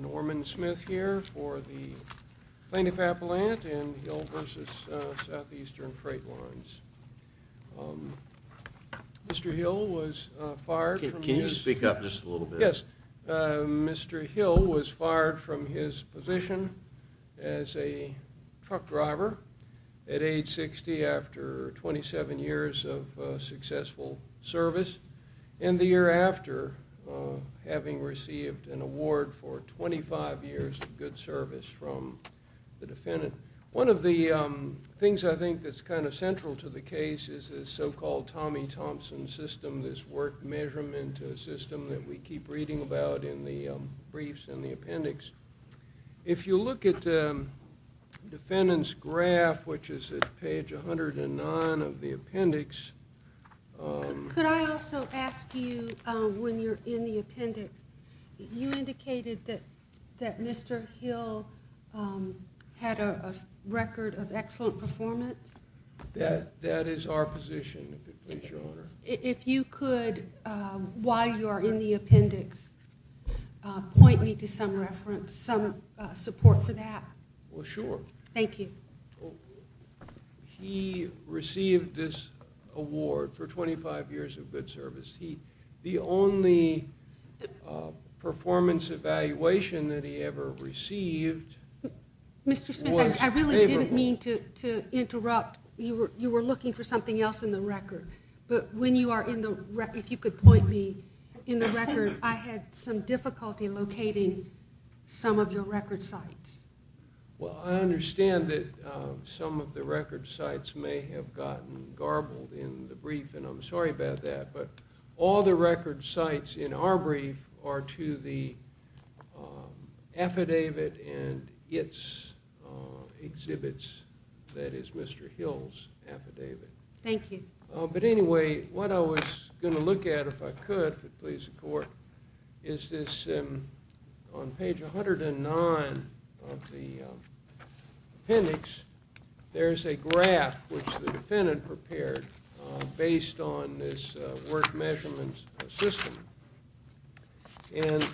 Norman Smith here for the Plaintiff Appellant in Hill v. Southeastern Freight Lines. Mr. Hill was fired from his position as a truck driver at age 60 after 27 years of successful service. And the year after, having received an award for 25 years of good service from the defendant. One of the things I think that's kind of central to the case is the so-called Tommy Thompson system, this work measurement system that we keep reading about in the briefs and the appendix. If you look at the defendant's graph, which is at page 109 of the appendix. Could I also ask you, when you're in the appendix, you indicated that Mr. Hill had a record of excellent performance? That is our position, if you please, Your Honor. If you could, while you are in the appendix, point me to some reference, some support for that. Well, sure. Thank you. He received this award for 25 years of good service. The only performance evaluation that he ever received was favorable. I didn't mean to interrupt. You were looking for something else in the record. But when you are in the record, if you could point me in the record, I had some difficulty locating some of your record sites. Well, I understand that some of the record sites may have gotten garbled in the brief, and I'm sorry about that. But all the record sites in our brief are to the affidavit and its exhibits, that is Mr. Hill's affidavit. Thank you. But anyway, what I was going to look at, if I could, if it pleases the Court, is this. On page 109 of the appendix, there is a graph which the defendant prepared based on this work measurement system. And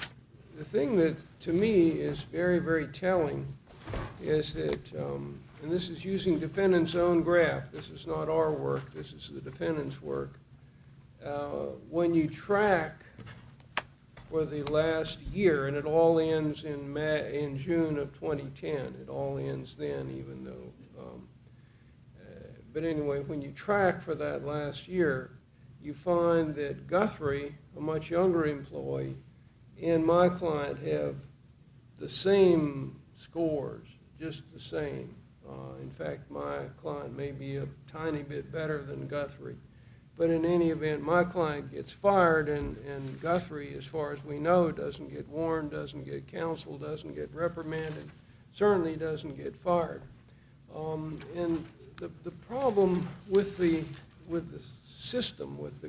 the thing that, to me, is very, very telling is that, and this is using the defendant's own graph, this is not our work, this is the defendant's work. When you track for the last year, and it all ends in June of 2010, it all ends then, even though, but anyway, when you track for that last year, you find that Guthrie, a much younger employee, and my client have the same scores, just the same. In fact, my client may be a tiny bit better than Guthrie. But in any event, my client gets fired, and Guthrie, as far as we know, doesn't get warned, doesn't get counseled, doesn't get reprimanded, certainly doesn't get fired. And the problem with the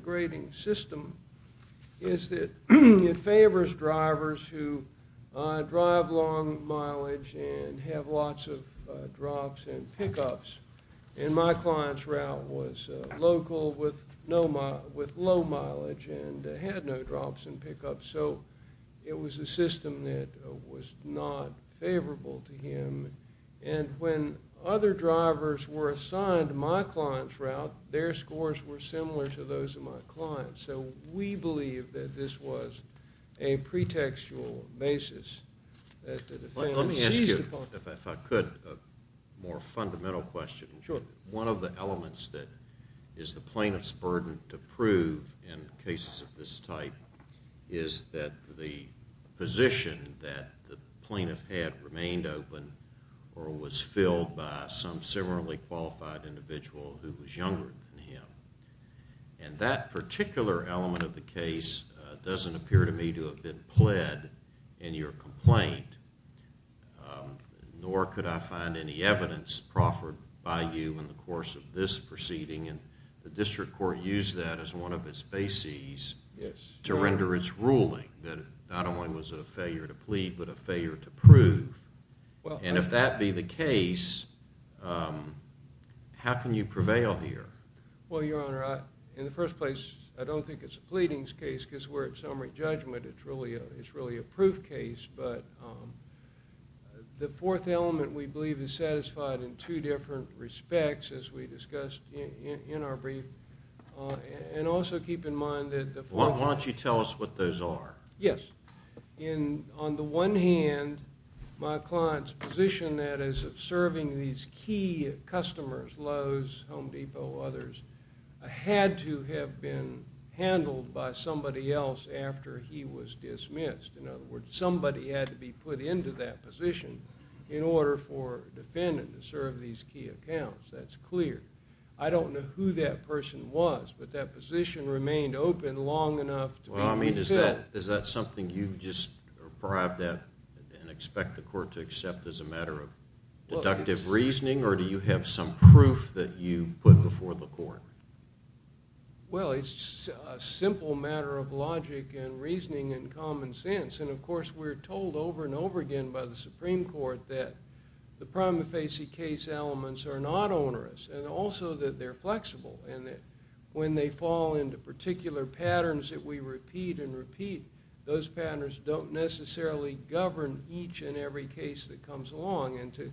grading system is that it favors drivers who drive long mileage and have lots of drops and pickups. And my client's route was local with low mileage and had no drops and pickups, so it was a system that was not favorable to him. And when other drivers were assigned my client's route, their scores were similar to those of my client. So we believe that this was a pretextual basis that the defendant seized upon. Let me ask you, if I could, a more fundamental question. Sure. One of the elements that is the plaintiff's burden to prove in cases of this type is that the position that the plaintiff had remained open or was filled by some similarly qualified individual who was younger than him. And that particular element of the case doesn't appear to me to have been pled in your complaint, nor could I find any evidence proffered by you in the course of this proceeding. And the district court used that as one of its bases to render its ruling that not only was it a failure to plead, but a failure to prove. And if that be the case, how can you prevail here? Well, Your Honor, in the first place, I don't think it's a pleadings case, because we're at summary judgment. It's really a proof case. But the fourth element, we believe, is satisfied in two different respects, as we discussed in our brief. And also keep in mind that the fourth element— Why don't you tell us what those are? Yes. On the one hand, my client's position, that is, of serving these key customers—Lowe's, Home Depot, others—had to have been handled by somebody else after he was dismissed. In other words, somebody had to be put into that position in order for a defendant to serve these key accounts. That's clear. I don't know who that person was, but that position remained open long enough to be filled. I mean, is that something you've just arrived at and expect the court to accept as a matter of deductive reasoning, or do you have some proof that you put before the court? Well, it's a simple matter of logic and reasoning and common sense. And, of course, we're told over and over again by the Supreme Court that the prima facie case elements are not onerous, and also that they're flexible. And that when they fall into particular patterns that we repeat and repeat, those patterns don't necessarily govern each and every case that comes along. And to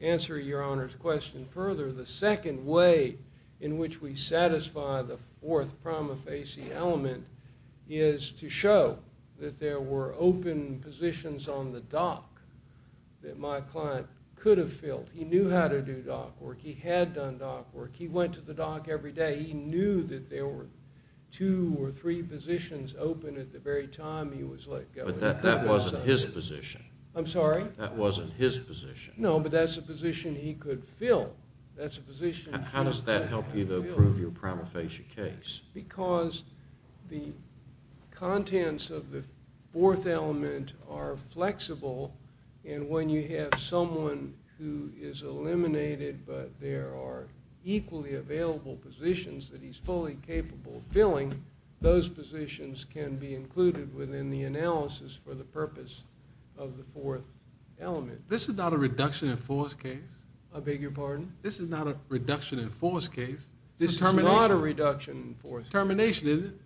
answer Your Honor's question further, the second way in which we satisfy the fourth prima facie element is to show that there were open positions on the dock that my client could have filled. He knew how to do dock work. He had done dock work. He went to the dock every day. He knew that there were two or three positions open at the very time he was let go. But that wasn't his position. I'm sorry? That wasn't his position. No, but that's a position he could fill. How does that help you, though, prove your prima facie case? Because the contents of the fourth element are flexible. And when you have someone who is eliminated but there are equally available positions that he's fully capable of filling, those positions can be included within the analysis for the purpose of the fourth element. This is not a reduction in force case. I beg your pardon? This is not a reduction in force case. This is termination. This is not a reduction in force case. It's a termination, isn't it?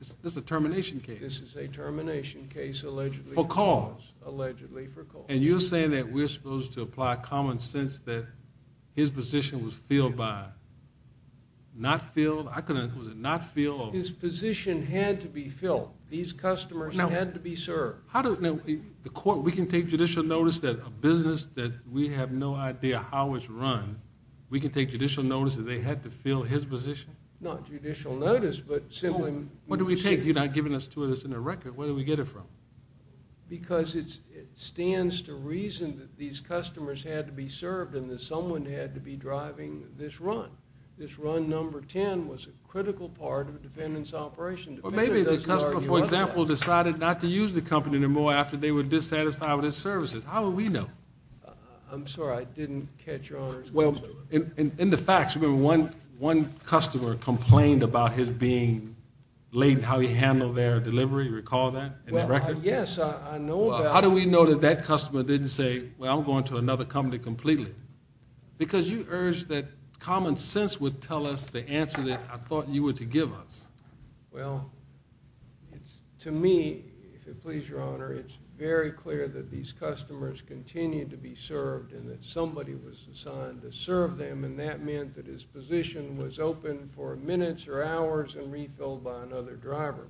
This is a termination case. This is a termination case, allegedly. For cause. Allegedly for cause. And you're saying that we're supposed to apply common sense that his position was filled by? Not filled? Was it not filled? His position had to be filled. These customers had to be served. We can take judicial notice that a business that we have no idea how it's run, we can take judicial notice that they had to fill his position? Not judicial notice, but simply. What do we take? You're not giving us two of those in the record. Where do we get it from? Because it stands to reason that these customers had to be served and that someone had to be driving this run. This run number 10 was a critical part of the defendant's operation. Or maybe the customer, for example, decided not to use the company anymore after they were dissatisfied with his services. How would we know? I'm sorry. I didn't catch your order. Well, in the facts, remember one customer complained about his being late in how he handled their delivery. Do you recall that in the record? Yes, I know about that. How do we know that that customer didn't say, well, I'm going to another company completely? Because you urged that common sense would tell us the answer that I thought you were to give us. Well, to me, if you please, Your Honor, it's very clear that these customers continued to be served and that somebody was assigned to serve them, and that meant that his position was open for minutes or hours and refilled by another driver.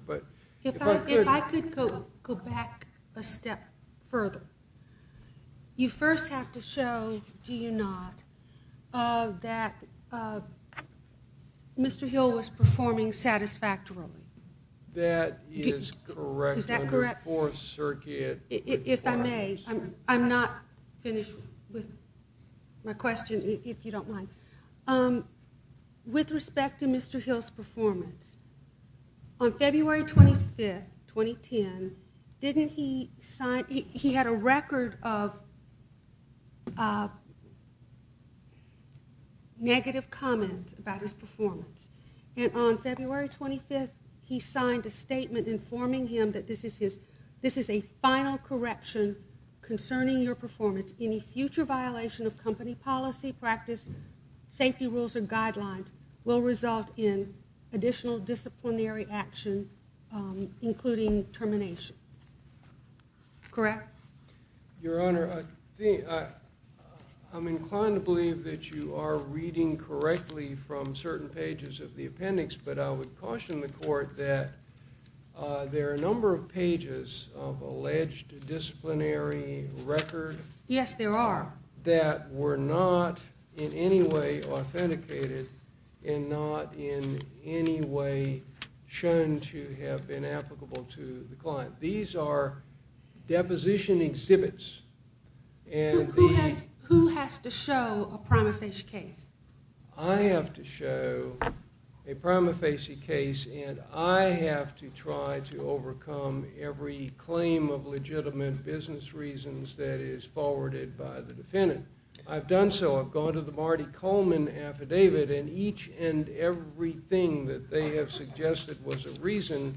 If I could go back a step further. You first have to show, do you not, that Mr. Hill was performing satisfactorily. That is correct under Fourth Circuit. If I may, I'm not finished with my question, if you don't mind. With respect to Mr. Hill's performance, on February 25th, 2010, he had a record of negative comments about his performance. And on February 25th, he signed a statement informing him that this is a final correction concerning your performance. Any future violation of company policy, practice, safety rules, or guidelines will result in additional disciplinary action, including termination. Correct? Your Honor, I'm inclined to believe that you are reading correctly from certain pages of the appendix, but I would caution the Court that there are a number of pages of alleged disciplinary record. Yes, there are. That were not in any way authenticated and not in any way shown to have been applicable to the client. These are deposition exhibits. Who has to show a prima facie case? I have to show a prima facie case, and I have to try to overcome every claim of legitimate business reasons that is forwarded by the defendant. I've done so. I've gone to the Marty Coleman affidavit, and each and every thing that they have suggested was a reason,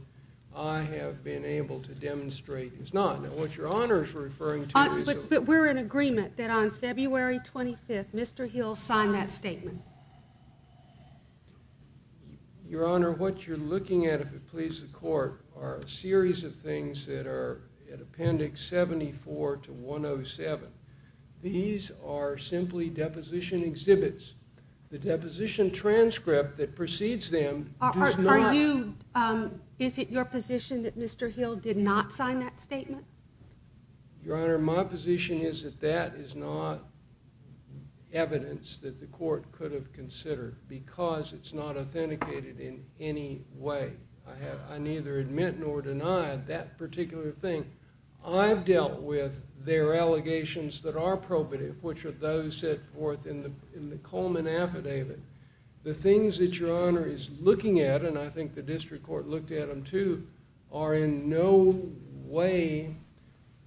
I have been able to demonstrate is not. But we're in agreement that on February 25th, Mr. Hill signed that statement. Your Honor, what you're looking at, if it pleases the Court, are a series of things that are in appendix 74 to 107. These are simply deposition exhibits. The deposition transcript that precedes them does not... Is it your position that Mr. Hill did not sign that statement? Your Honor, my position is that that is not evidence that the Court could have considered because it's not authenticated in any way. I neither admit nor deny that particular thing. I've dealt with their allegations that are probative, which are those set forth in the Coleman affidavit. The things that Your Honor is looking at, and I think the district court looked at them too, are in no way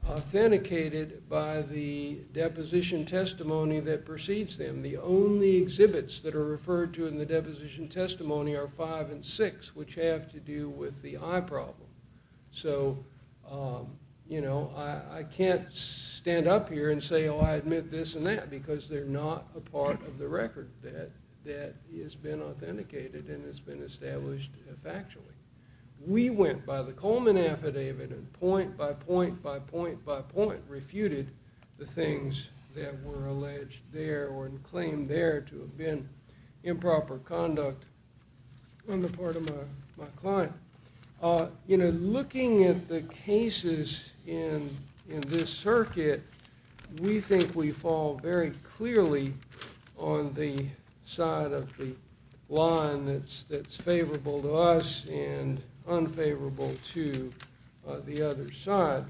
authenticated by the deposition testimony that precedes them. The only exhibits that are referred to in the deposition testimony are five and six, which have to do with the eye problem. So, you know, I can't stand up here and say, oh, I admit this and that, because they're not a part of the record that has been authenticated and has been established factually. We went by the Coleman affidavit and point by point by point by point refuted the things that were alleged there or claimed there to have been improper conduct on the part of my client. You know, looking at the cases in this circuit, we think we fall very clearly on the side of the line that's favorable to us and unfavorable to the other side.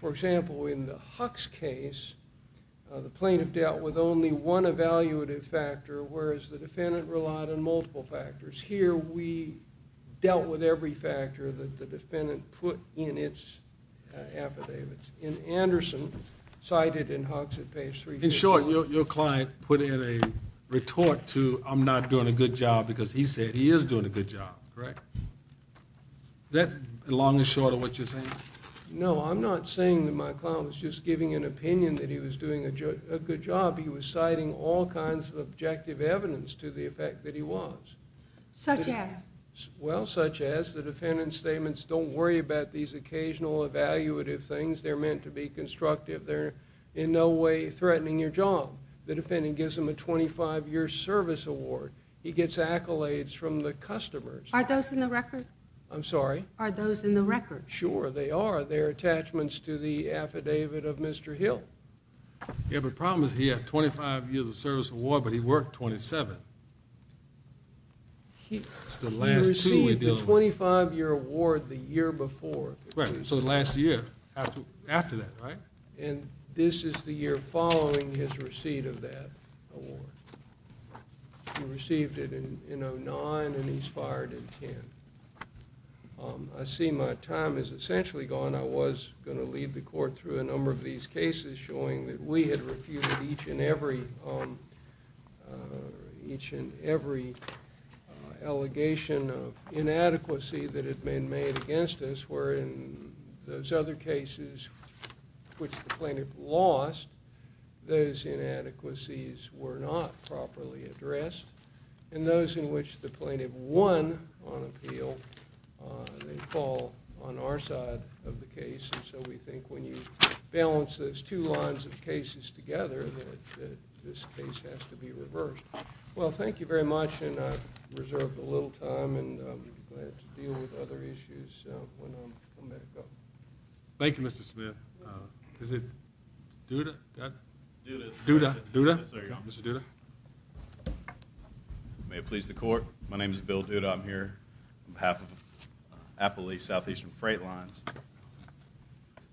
For example, in the Hux case, the plaintiff dealt with only one evaluative factor, whereas the defendant relied on multiple factors. Here we dealt with every factor that the defendant put in its affidavits. In Anderson, cited in Hux at page 3- In short, your client put in a retort to I'm not doing a good job because he said he is doing a good job, correct? Is that long and short of what you're saying? No, I'm not saying that my client was just giving an opinion that he was doing a good job. He was citing all kinds of objective evidence to the effect that he was. Such as? Well, such as the defendant's statements, don't worry about these occasional evaluative things. They're meant to be constructive. They're in no way threatening your job. The defendant gives him a 25-year service award. He gets accolades from the customers. Are those in the record? I'm sorry? Are those in the record? Sure, they are. They're attachments to the affidavit of Mr. Hill. Yeah, but the problem is he had 25 years of service award, but he worked 27. He received the 25-year award the year before. Right, so the last year after that, right? And this is the year following his receipt of that award. He received it in 2009, and he's fired in 10. I see my time is essentially gone. I was going to lead the court through a number of these cases showing that we had refuted each and every allegation of inadequacy that had been made against us, where in those other cases which the plaintiff lost, those inadequacies were not properly addressed, and those in which the plaintiff won on appeal, they fall on our side of the case. And so we think when you balance those two lines of cases together that this case has to be reversed. Well, thank you very much, and I've reserved a little time, and I'm glad to deal with other issues when I'm coming back up. Thank you, Mr. Smith. Is it Duda? Duda. Duda? Yes, there you are, Mr. Duda. May it please the court, my name is Bill Duda. I'm here on behalf of Appalachee Southeastern Freight Lines.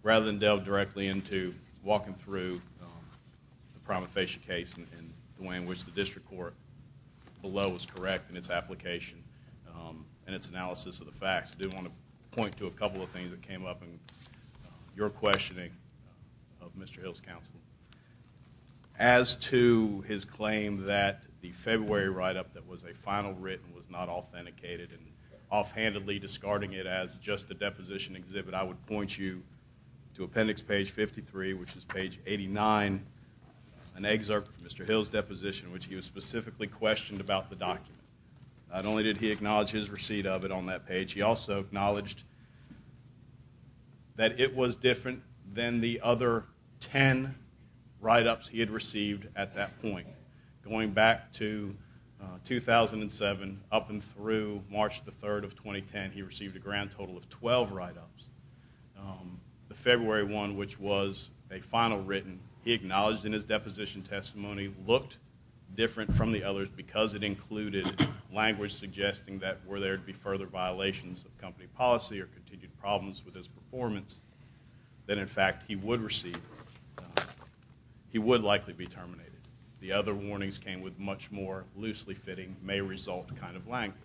Rather than delve directly into walking through the prima facie case and the way in which the district court below is correct in its application and its analysis of the facts, I do want to point to a couple of things that came up in your questioning of Mr. Hill's counsel. As to his claim that the February write-up that was a final written was not authenticated and offhandedly discarding it as just a deposition exhibit, I would point you to appendix page 53, which is page 89, an excerpt from Mr. Hill's deposition in which he was specifically questioned about the document. Not only did he acknowledge his receipt of it on that page, he also acknowledged that it was different than the other ten write-ups he had received at that point. Going back to 2007, up and through March the 3rd of 2010, he received a grand total of 12 write-ups. The February one, which was a final written, he acknowledged in his deposition testimony looked different from the others because it included language suggesting that were there to be further violations of company policy or continued problems with his performance, that in fact he would likely be terminated. The other warnings came with much more loosely fitting, may result kind of language.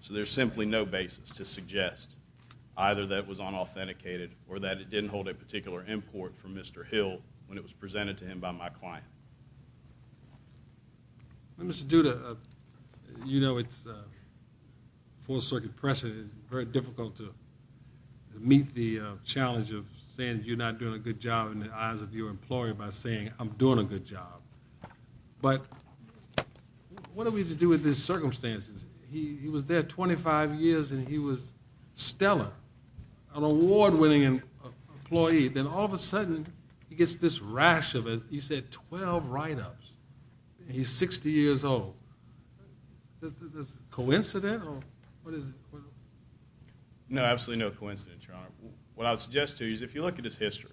So there's simply no basis to suggest either that it was unauthenticated or that it didn't hold a particular import from Mr. Hill when it was presented to him by my client. Mr. Duda, you know it's full circuit pressure. It's very difficult to meet the challenge of saying you're not doing a good job in the eyes of your employer by saying I'm doing a good job. But what do we have to do with his circumstances? He was there 25 years and he was stellar, an award-winning employee. Then all of a sudden he gets this rash of it. He said 12 write-ups and he's 60 years old. Is this a coincidence or what is it? No, absolutely no coincidence, Your Honor. What I would suggest to you is if you look at his history,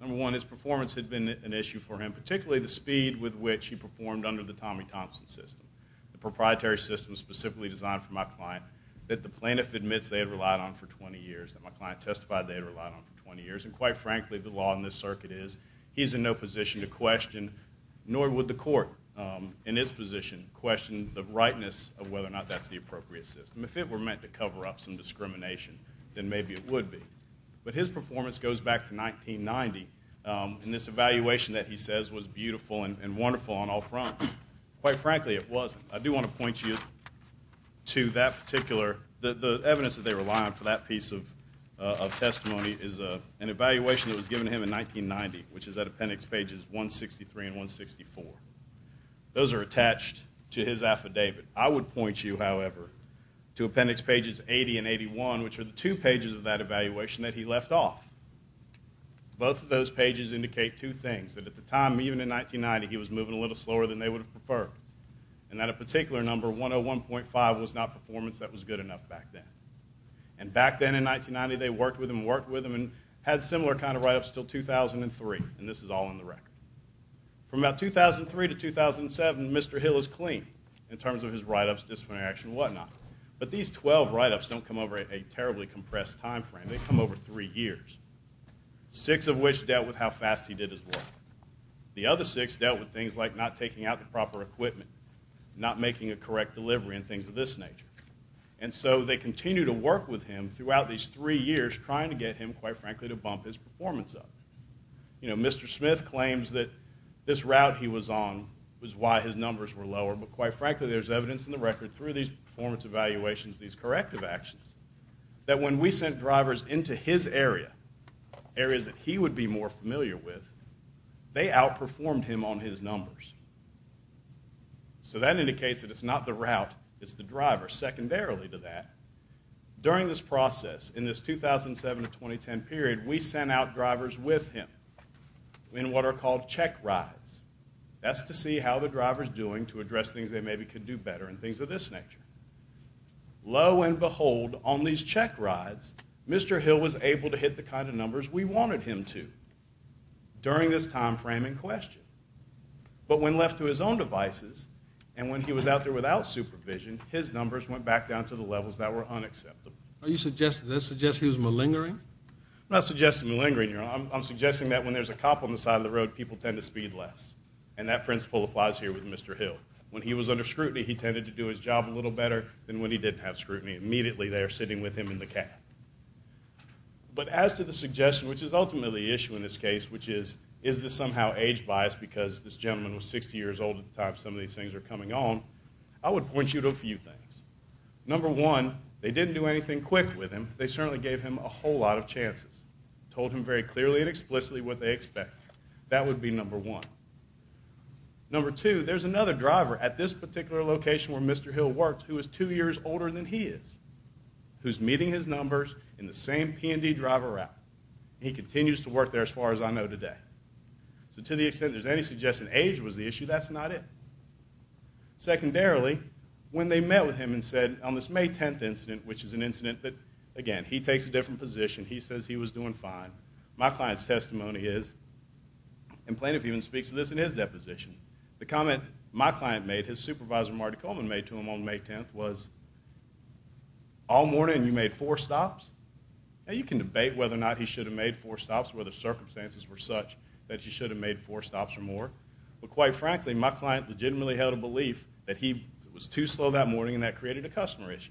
number one, his performance had been an issue for him, particularly the speed with which he performed under the Tommy Thompson system, the proprietary system specifically designed for my client that the plaintiff admits they had relied on for 20 years, that my client testified they had relied on for 20 years, and quite frankly the law in this circuit is he's in no position to question, nor would the court in its position question the rightness of whether or not that's the appropriate system. If it were meant to cover up some discrimination, then maybe it would be. But his performance goes back to 1990, and this evaluation that he says was beautiful and wonderful on all fronts, quite frankly it wasn't. I do want to point you to that particular, the evidence that they rely on for that piece of testimony is an evaluation that was given to him in 1990, which is at appendix pages 163 and 164. Those are attached to his affidavit. I would point you, however, to appendix pages 80 and 81, which are the two pages of that evaluation that he left off. Both of those pages indicate two things, that at the time, even in 1990, he was moving a little slower than they would have preferred, and that a particular number, 101.5, was not performance that was good enough back then. And back then in 1990, they worked with him and worked with him and had similar kind of write-ups until 2003, and this is all in the record. From about 2003 to 2007, Mr. Hill is clean, in terms of his write-ups, disciplinary action, and whatnot. But these 12 write-ups don't come over a terribly compressed time frame, they come over three years, six of which dealt with how fast he did his work. The other six dealt with things like not taking out the proper equipment, not making a correct delivery, and things of this nature. And so they continue to work with him throughout these three years, trying to get him, quite frankly, to bump his performance up. You know, Mr. Smith claims that this route he was on was why his numbers were lower, but quite frankly, there's evidence in the record through these performance evaluations, these corrective actions, that when we sent drivers into his area, areas that he would be more familiar with, they outperformed him on his numbers. So that indicates that it's not the route, it's the driver, secondarily to that. During this process, in this 2007 to 2010 period, we sent out drivers with him in what are called check rides. That's to see how the driver's doing to address things they maybe could do better and things of this nature. Lo and behold, on these check rides, Mr. Hill was able to hit the kind of numbers we wanted him to during this time frame in question. But when left to his own devices, and when he was out there without supervision, his numbers went back down to the levels that were unacceptable. Are you suggesting this suggests he was malingering? I'm not suggesting malingering. I'm suggesting that when there's a cop on the side of the road, people tend to speed less. And that principle applies here with Mr. Hill. When he was under scrutiny, he tended to do his job a little better than when he didn't have scrutiny. Immediately, they are sitting with him in the cab. But as to the suggestion, which is ultimately the issue in this case, which is, is this somehow age-biased because this gentleman was 60 years old at the time some of these things were coming on, I would point you to a few things. Number one, they didn't do anything quick with him. They certainly gave him a whole lot of chances, told him very clearly and explicitly what they expected. That would be number one. Number two, there's another driver at this particular location where Mr. Hill worked who is two years older than he is, who's meeting his numbers in the same P&D driver route. He continues to work there as far as I know today. So to the extent there's any suggestion age was the issue, that's not it. Secondarily, when they met with him and said on this May 10th incident, which is an incident that, again, he takes a different position, he says he was doing fine, my client's testimony is, and Plaintiff even speaks to this in his deposition, the comment my client made, his supervisor Marty Coleman made to him on May 10th, was, all morning you made four stops? Now you can debate whether or not he should have made four stops, whether circumstances were such that he should have made four stops or more, but quite frankly my client legitimately held a belief that he was too slow that morning and that created a customer issue.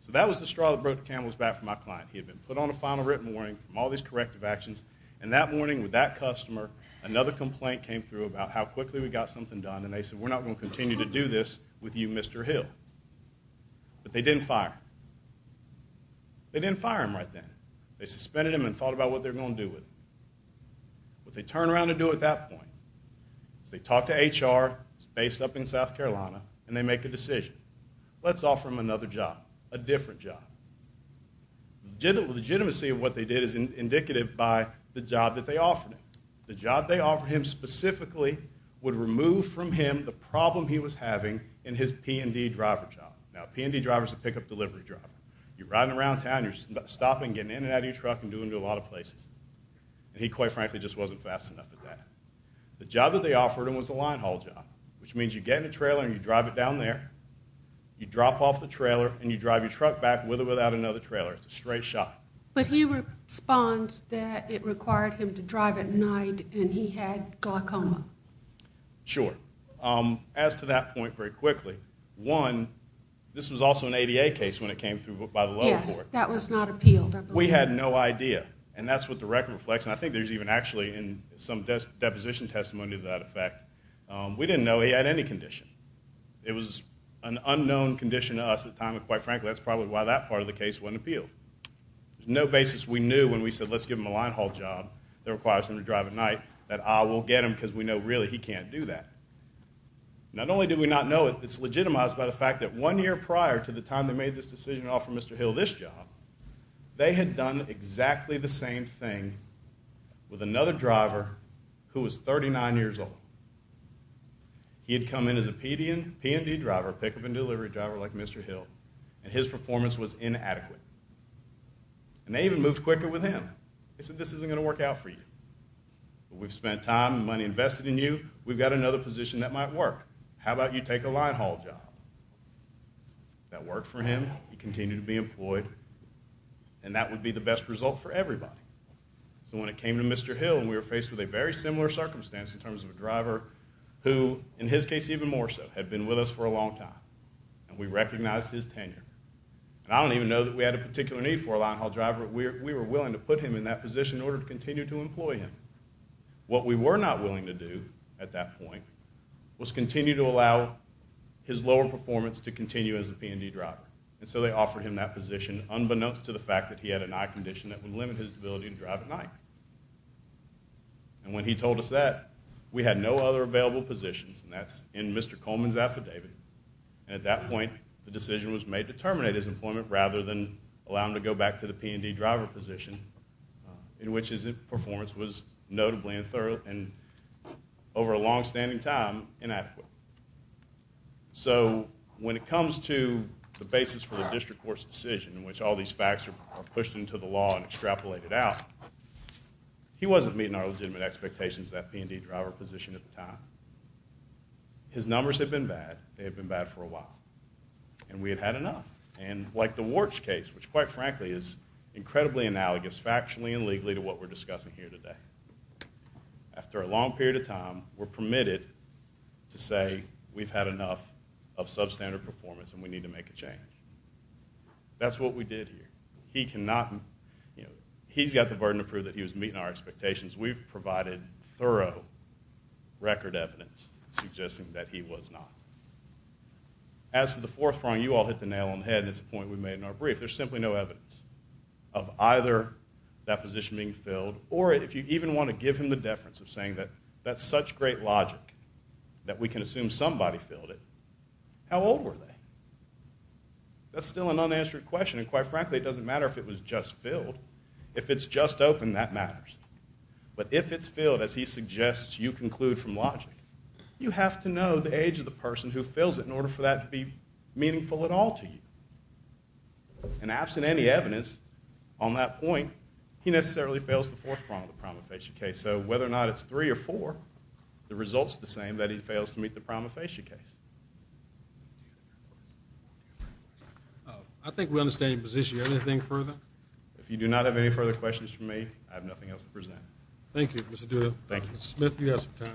So that was the straw that broke the camel's back for my client. He had been put on a final written warning from all these corrective actions, and that morning with that customer, another complaint came through about how quickly we got something done, and they said we're not going to continue to do this with you, Mr. Hill. But they didn't fire him. They didn't fire him right then. They suspended him and thought about what they were going to do with him. What they turned around to do at that point is they talked to HR, based up in South Carolina, and they make a decision. Let's offer him another job, a different job. The legitimacy of what they did is indicative by the job that they offered him. The job they offered him specifically would remove from him the problem he was having in his P&D driver job. Now a P&D driver is a pickup delivery driver. You're riding around town, you're stopping, getting in and out of your truck, and doing it to a lot of places. He, quite frankly, just wasn't fast enough at that. The job that they offered him was a line haul job, which means you get in a trailer and you drive it down there, you drop off the trailer and you drive your truck back with or without another trailer. It's a straight shot. But he responds that it required him to drive at night and he had glaucoma. Sure. As to that point, very quickly, one, this was also an ADA case when it came through by the lower court. Yes, that was not appealed, I believe. We had no idea, and that's what the record reflects, and I think there's even actually some deposition testimony to that effect. We didn't know he had any condition. It was an unknown condition to us at the time, and quite frankly that's probably why that part of the case wasn't appealed. There's no basis we knew when we said let's give him a line haul job that requires him to drive at night that I will get him because we know really he can't do that. Not only did we not know it, it's legitimized by the fact that one year prior to the time they made this decision to offer Mr. Hill this job, they had done exactly the same thing with another driver who was 39 years old. He had come in as a PD and P&D driver, pickup and delivery driver like Mr. Hill, and his performance was inadequate, and they even moved quicker with him. They said this isn't going to work out for you. We've spent time and money invested in you. We've got another position that might work. How about you take a line haul job? That worked for him. He continued to be employed, and that would be the best result for everybody. So when it came to Mr. Hill, we were faced with a very similar circumstance in terms of a driver who, in his case even more so, had been with us for a long time, and we recognized his tenure. I don't even know that we had a particular need for a line haul driver, but we were willing to put him in that position in order to continue to employ him. What we were not willing to do at that point was continue to allow his lower performance to continue as a P&D driver, and so they offered him that position, unbeknownst to the fact that he had an eye condition that would limit his ability to drive at night. And when he told us that, we had no other available positions, and that's in Mr. Coleman's affidavit. At that point, the decision was made to terminate his employment rather than allow him to go back to the P&D driver position in which his performance was notably, and over a long-standing time, inadequate. So when it comes to the basis for the district court's decision in which all these facts are pushed into the law and extrapolated out, he wasn't meeting our legitimate expectations of that P&D driver position at the time. His numbers had been bad. They had been bad for a while, and we had had enough. And like the Warch case, which quite frankly is incredibly analogous factually and legally to what we're discussing here today, after a long period of time, we're permitted to say we've had enough of substandard performance and we need to make a change. That's what we did here. He's got the burden to prove that he was meeting our expectations. We've provided thorough record evidence suggesting that he was not. As to the fourth prong, you all hit the nail on the head, and it's a point we made in our brief. There's simply no evidence of either that position being filled or if you even want to give him the deference of saying that that's such great logic that we can assume somebody filled it. How old were they? That's still an unanswered question, and quite frankly, it doesn't matter if it was just filled. If it's just opened, that matters. But if it's filled, as he suggests you conclude from logic, you have to know the age of the person who fills it in order for that to be meaningful at all to you. And absent any evidence on that point, he necessarily fails the fourth prong of the promulgation case. So whether or not it's three or four, the result's the same that he fails to meet the promulgation case. I think we understand your position. Anything further? If you do not have any further questions for me, I have nothing else to present. Thank you, Mr. Duda. Thank you. Mr. Smith, you have some time.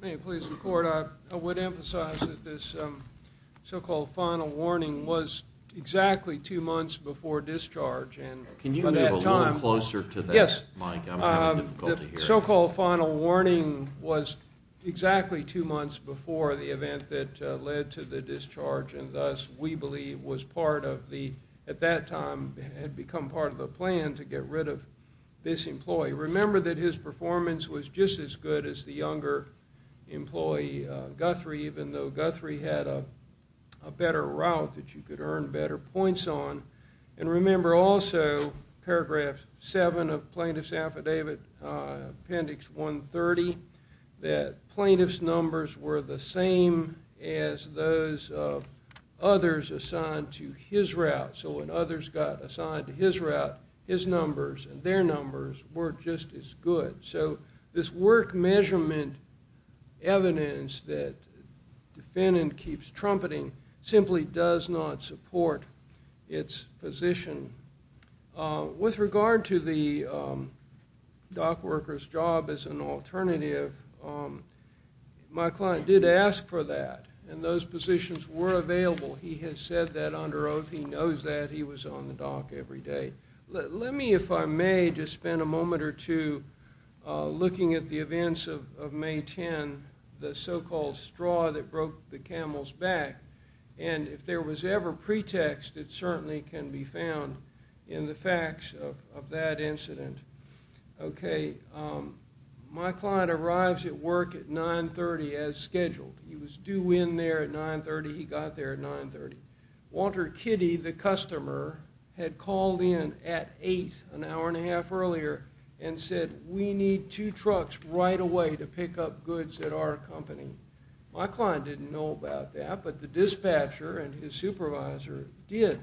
May it please the Court, I would emphasize that this so-called final warning was exactly two months before discharge. Can you move a little closer to that, Mike? I'm having difficulty here. The so-called final warning was exactly two months before the event that led to the discharge and thus we believe was part of the, at that time, had become part of the plan to get rid of this employee. Remember that his performance was just as good as the younger employee, Guthrie, even though Guthrie had a better route that you could earn better points on. And remember also paragraph 7 of Plaintiff's Affidavit, Appendix 130, that plaintiff's numbers were the same as those of others assigned to his route. So when others got assigned to his route, his numbers and their numbers were just as good. So this work measurement evidence that the defendant keeps trumpeting simply does not support its position. With regard to the dock worker's job as an alternative, my client did ask for that and those positions were available. He has said that under oath. He knows that. He was on the dock every day. Let me, if I may, just spend a moment or two looking at the events of May 10, the so-called straw that broke the camel's back, and if there was ever pretext, it certainly can be found in the facts of that incident. Okay, my client arrives at work at 9.30 as scheduled. He was due in there at 9.30. He got there at 9.30. Walter Kitty, the customer, had called in at 8, an hour and a half earlier, and said, we need two trucks right away to pick up goods at our company. My client didn't know about that, but the dispatcher and his supervisor did.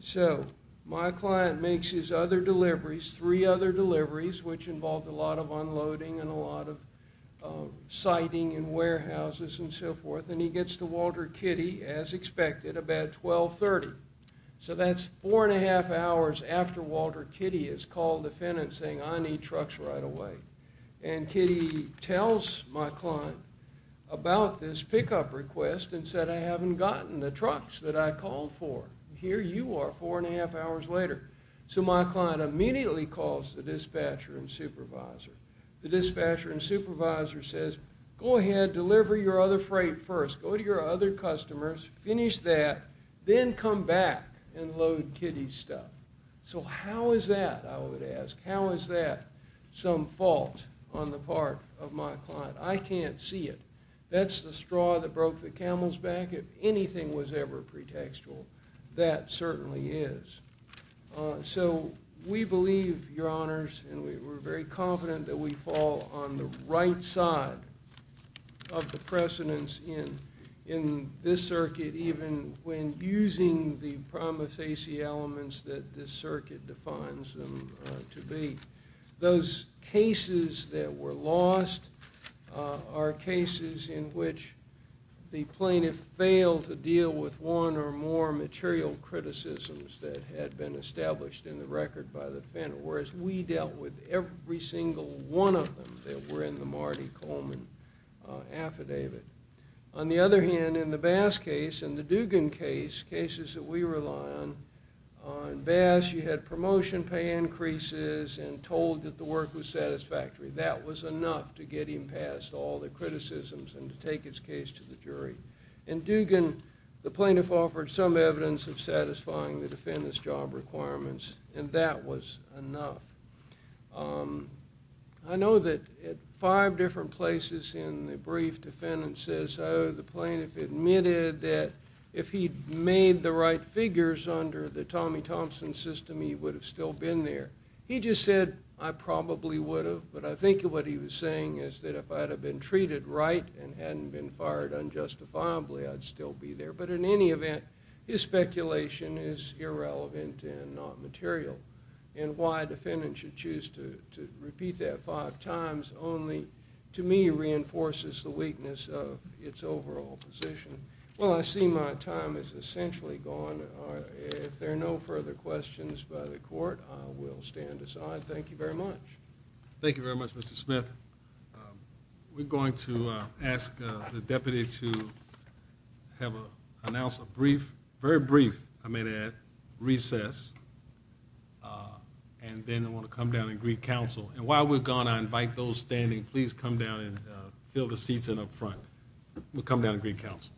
So my client makes his other deliveries, three other deliveries, which involved a lot of unloading and a lot of siting in warehouses and so forth, and he gets to Walter Kitty, as expected, about 12.30. So that's 4 1⁄2 hours after Walter Kitty has called the defendant saying, I need trucks right away. And Kitty tells my client about this pickup request and said, I haven't gotten the trucks that I called for. Here you are, 4 1⁄2 hours later. So my client immediately calls the dispatcher and supervisor. The dispatcher and supervisor says, go ahead, deliver your other freight first. Go to your other customers, finish that, then come back and load Kitty's stuff. So how is that, I would ask. How is that some fault on the part of my client? I can't see it. That's the straw that broke the camel's back. If anything was ever pretextual, that certainly is. So we believe, Your Honors, and we're very confident that we fall on the right side of the precedence in this circuit, even when using the promissacy elements that this circuit defines them to be. Those cases that were lost are cases in which the plaintiff failed to deal with one or more material criticisms that had been established in the record by the defendant, whereas we dealt with every single one of them that were in the Marty Coleman affidavit. On the other hand, in the Bass case and the Dugan case, cases that we rely on, in Bass you had promotion pay increases and told that the work was satisfactory. That was enough to get him past all the criticisms and to take his case to the jury. In Dugan, the plaintiff offered some evidence of satisfying the defendant's job requirements, and that was enough. I know that at five different places in the brief, defendant says, oh, the plaintiff admitted that if he'd made the right figures under the Tommy Thompson system, he would have still been there. He just said, I probably would have, but I think what he was saying is that if I'd have been treated right and hadn't been fired unjustifiably, I'd still be there. But in any event, his speculation is irrelevant and not material. And why a defendant should choose to repeat that five times only, to me, reinforces the weakness of its overall position. Well, I see my time is essentially gone. If there are no further questions by the court, I will stand aside. Thank you very much. Thank you very much, Mr. Smith. We're going to ask the deputy to announce a brief, very brief, I may add, recess, and then I want to come down and greet counsel. And while we're gone, I invite those standing, please come down and fill the seats in up front. We'll come down and greet counsel.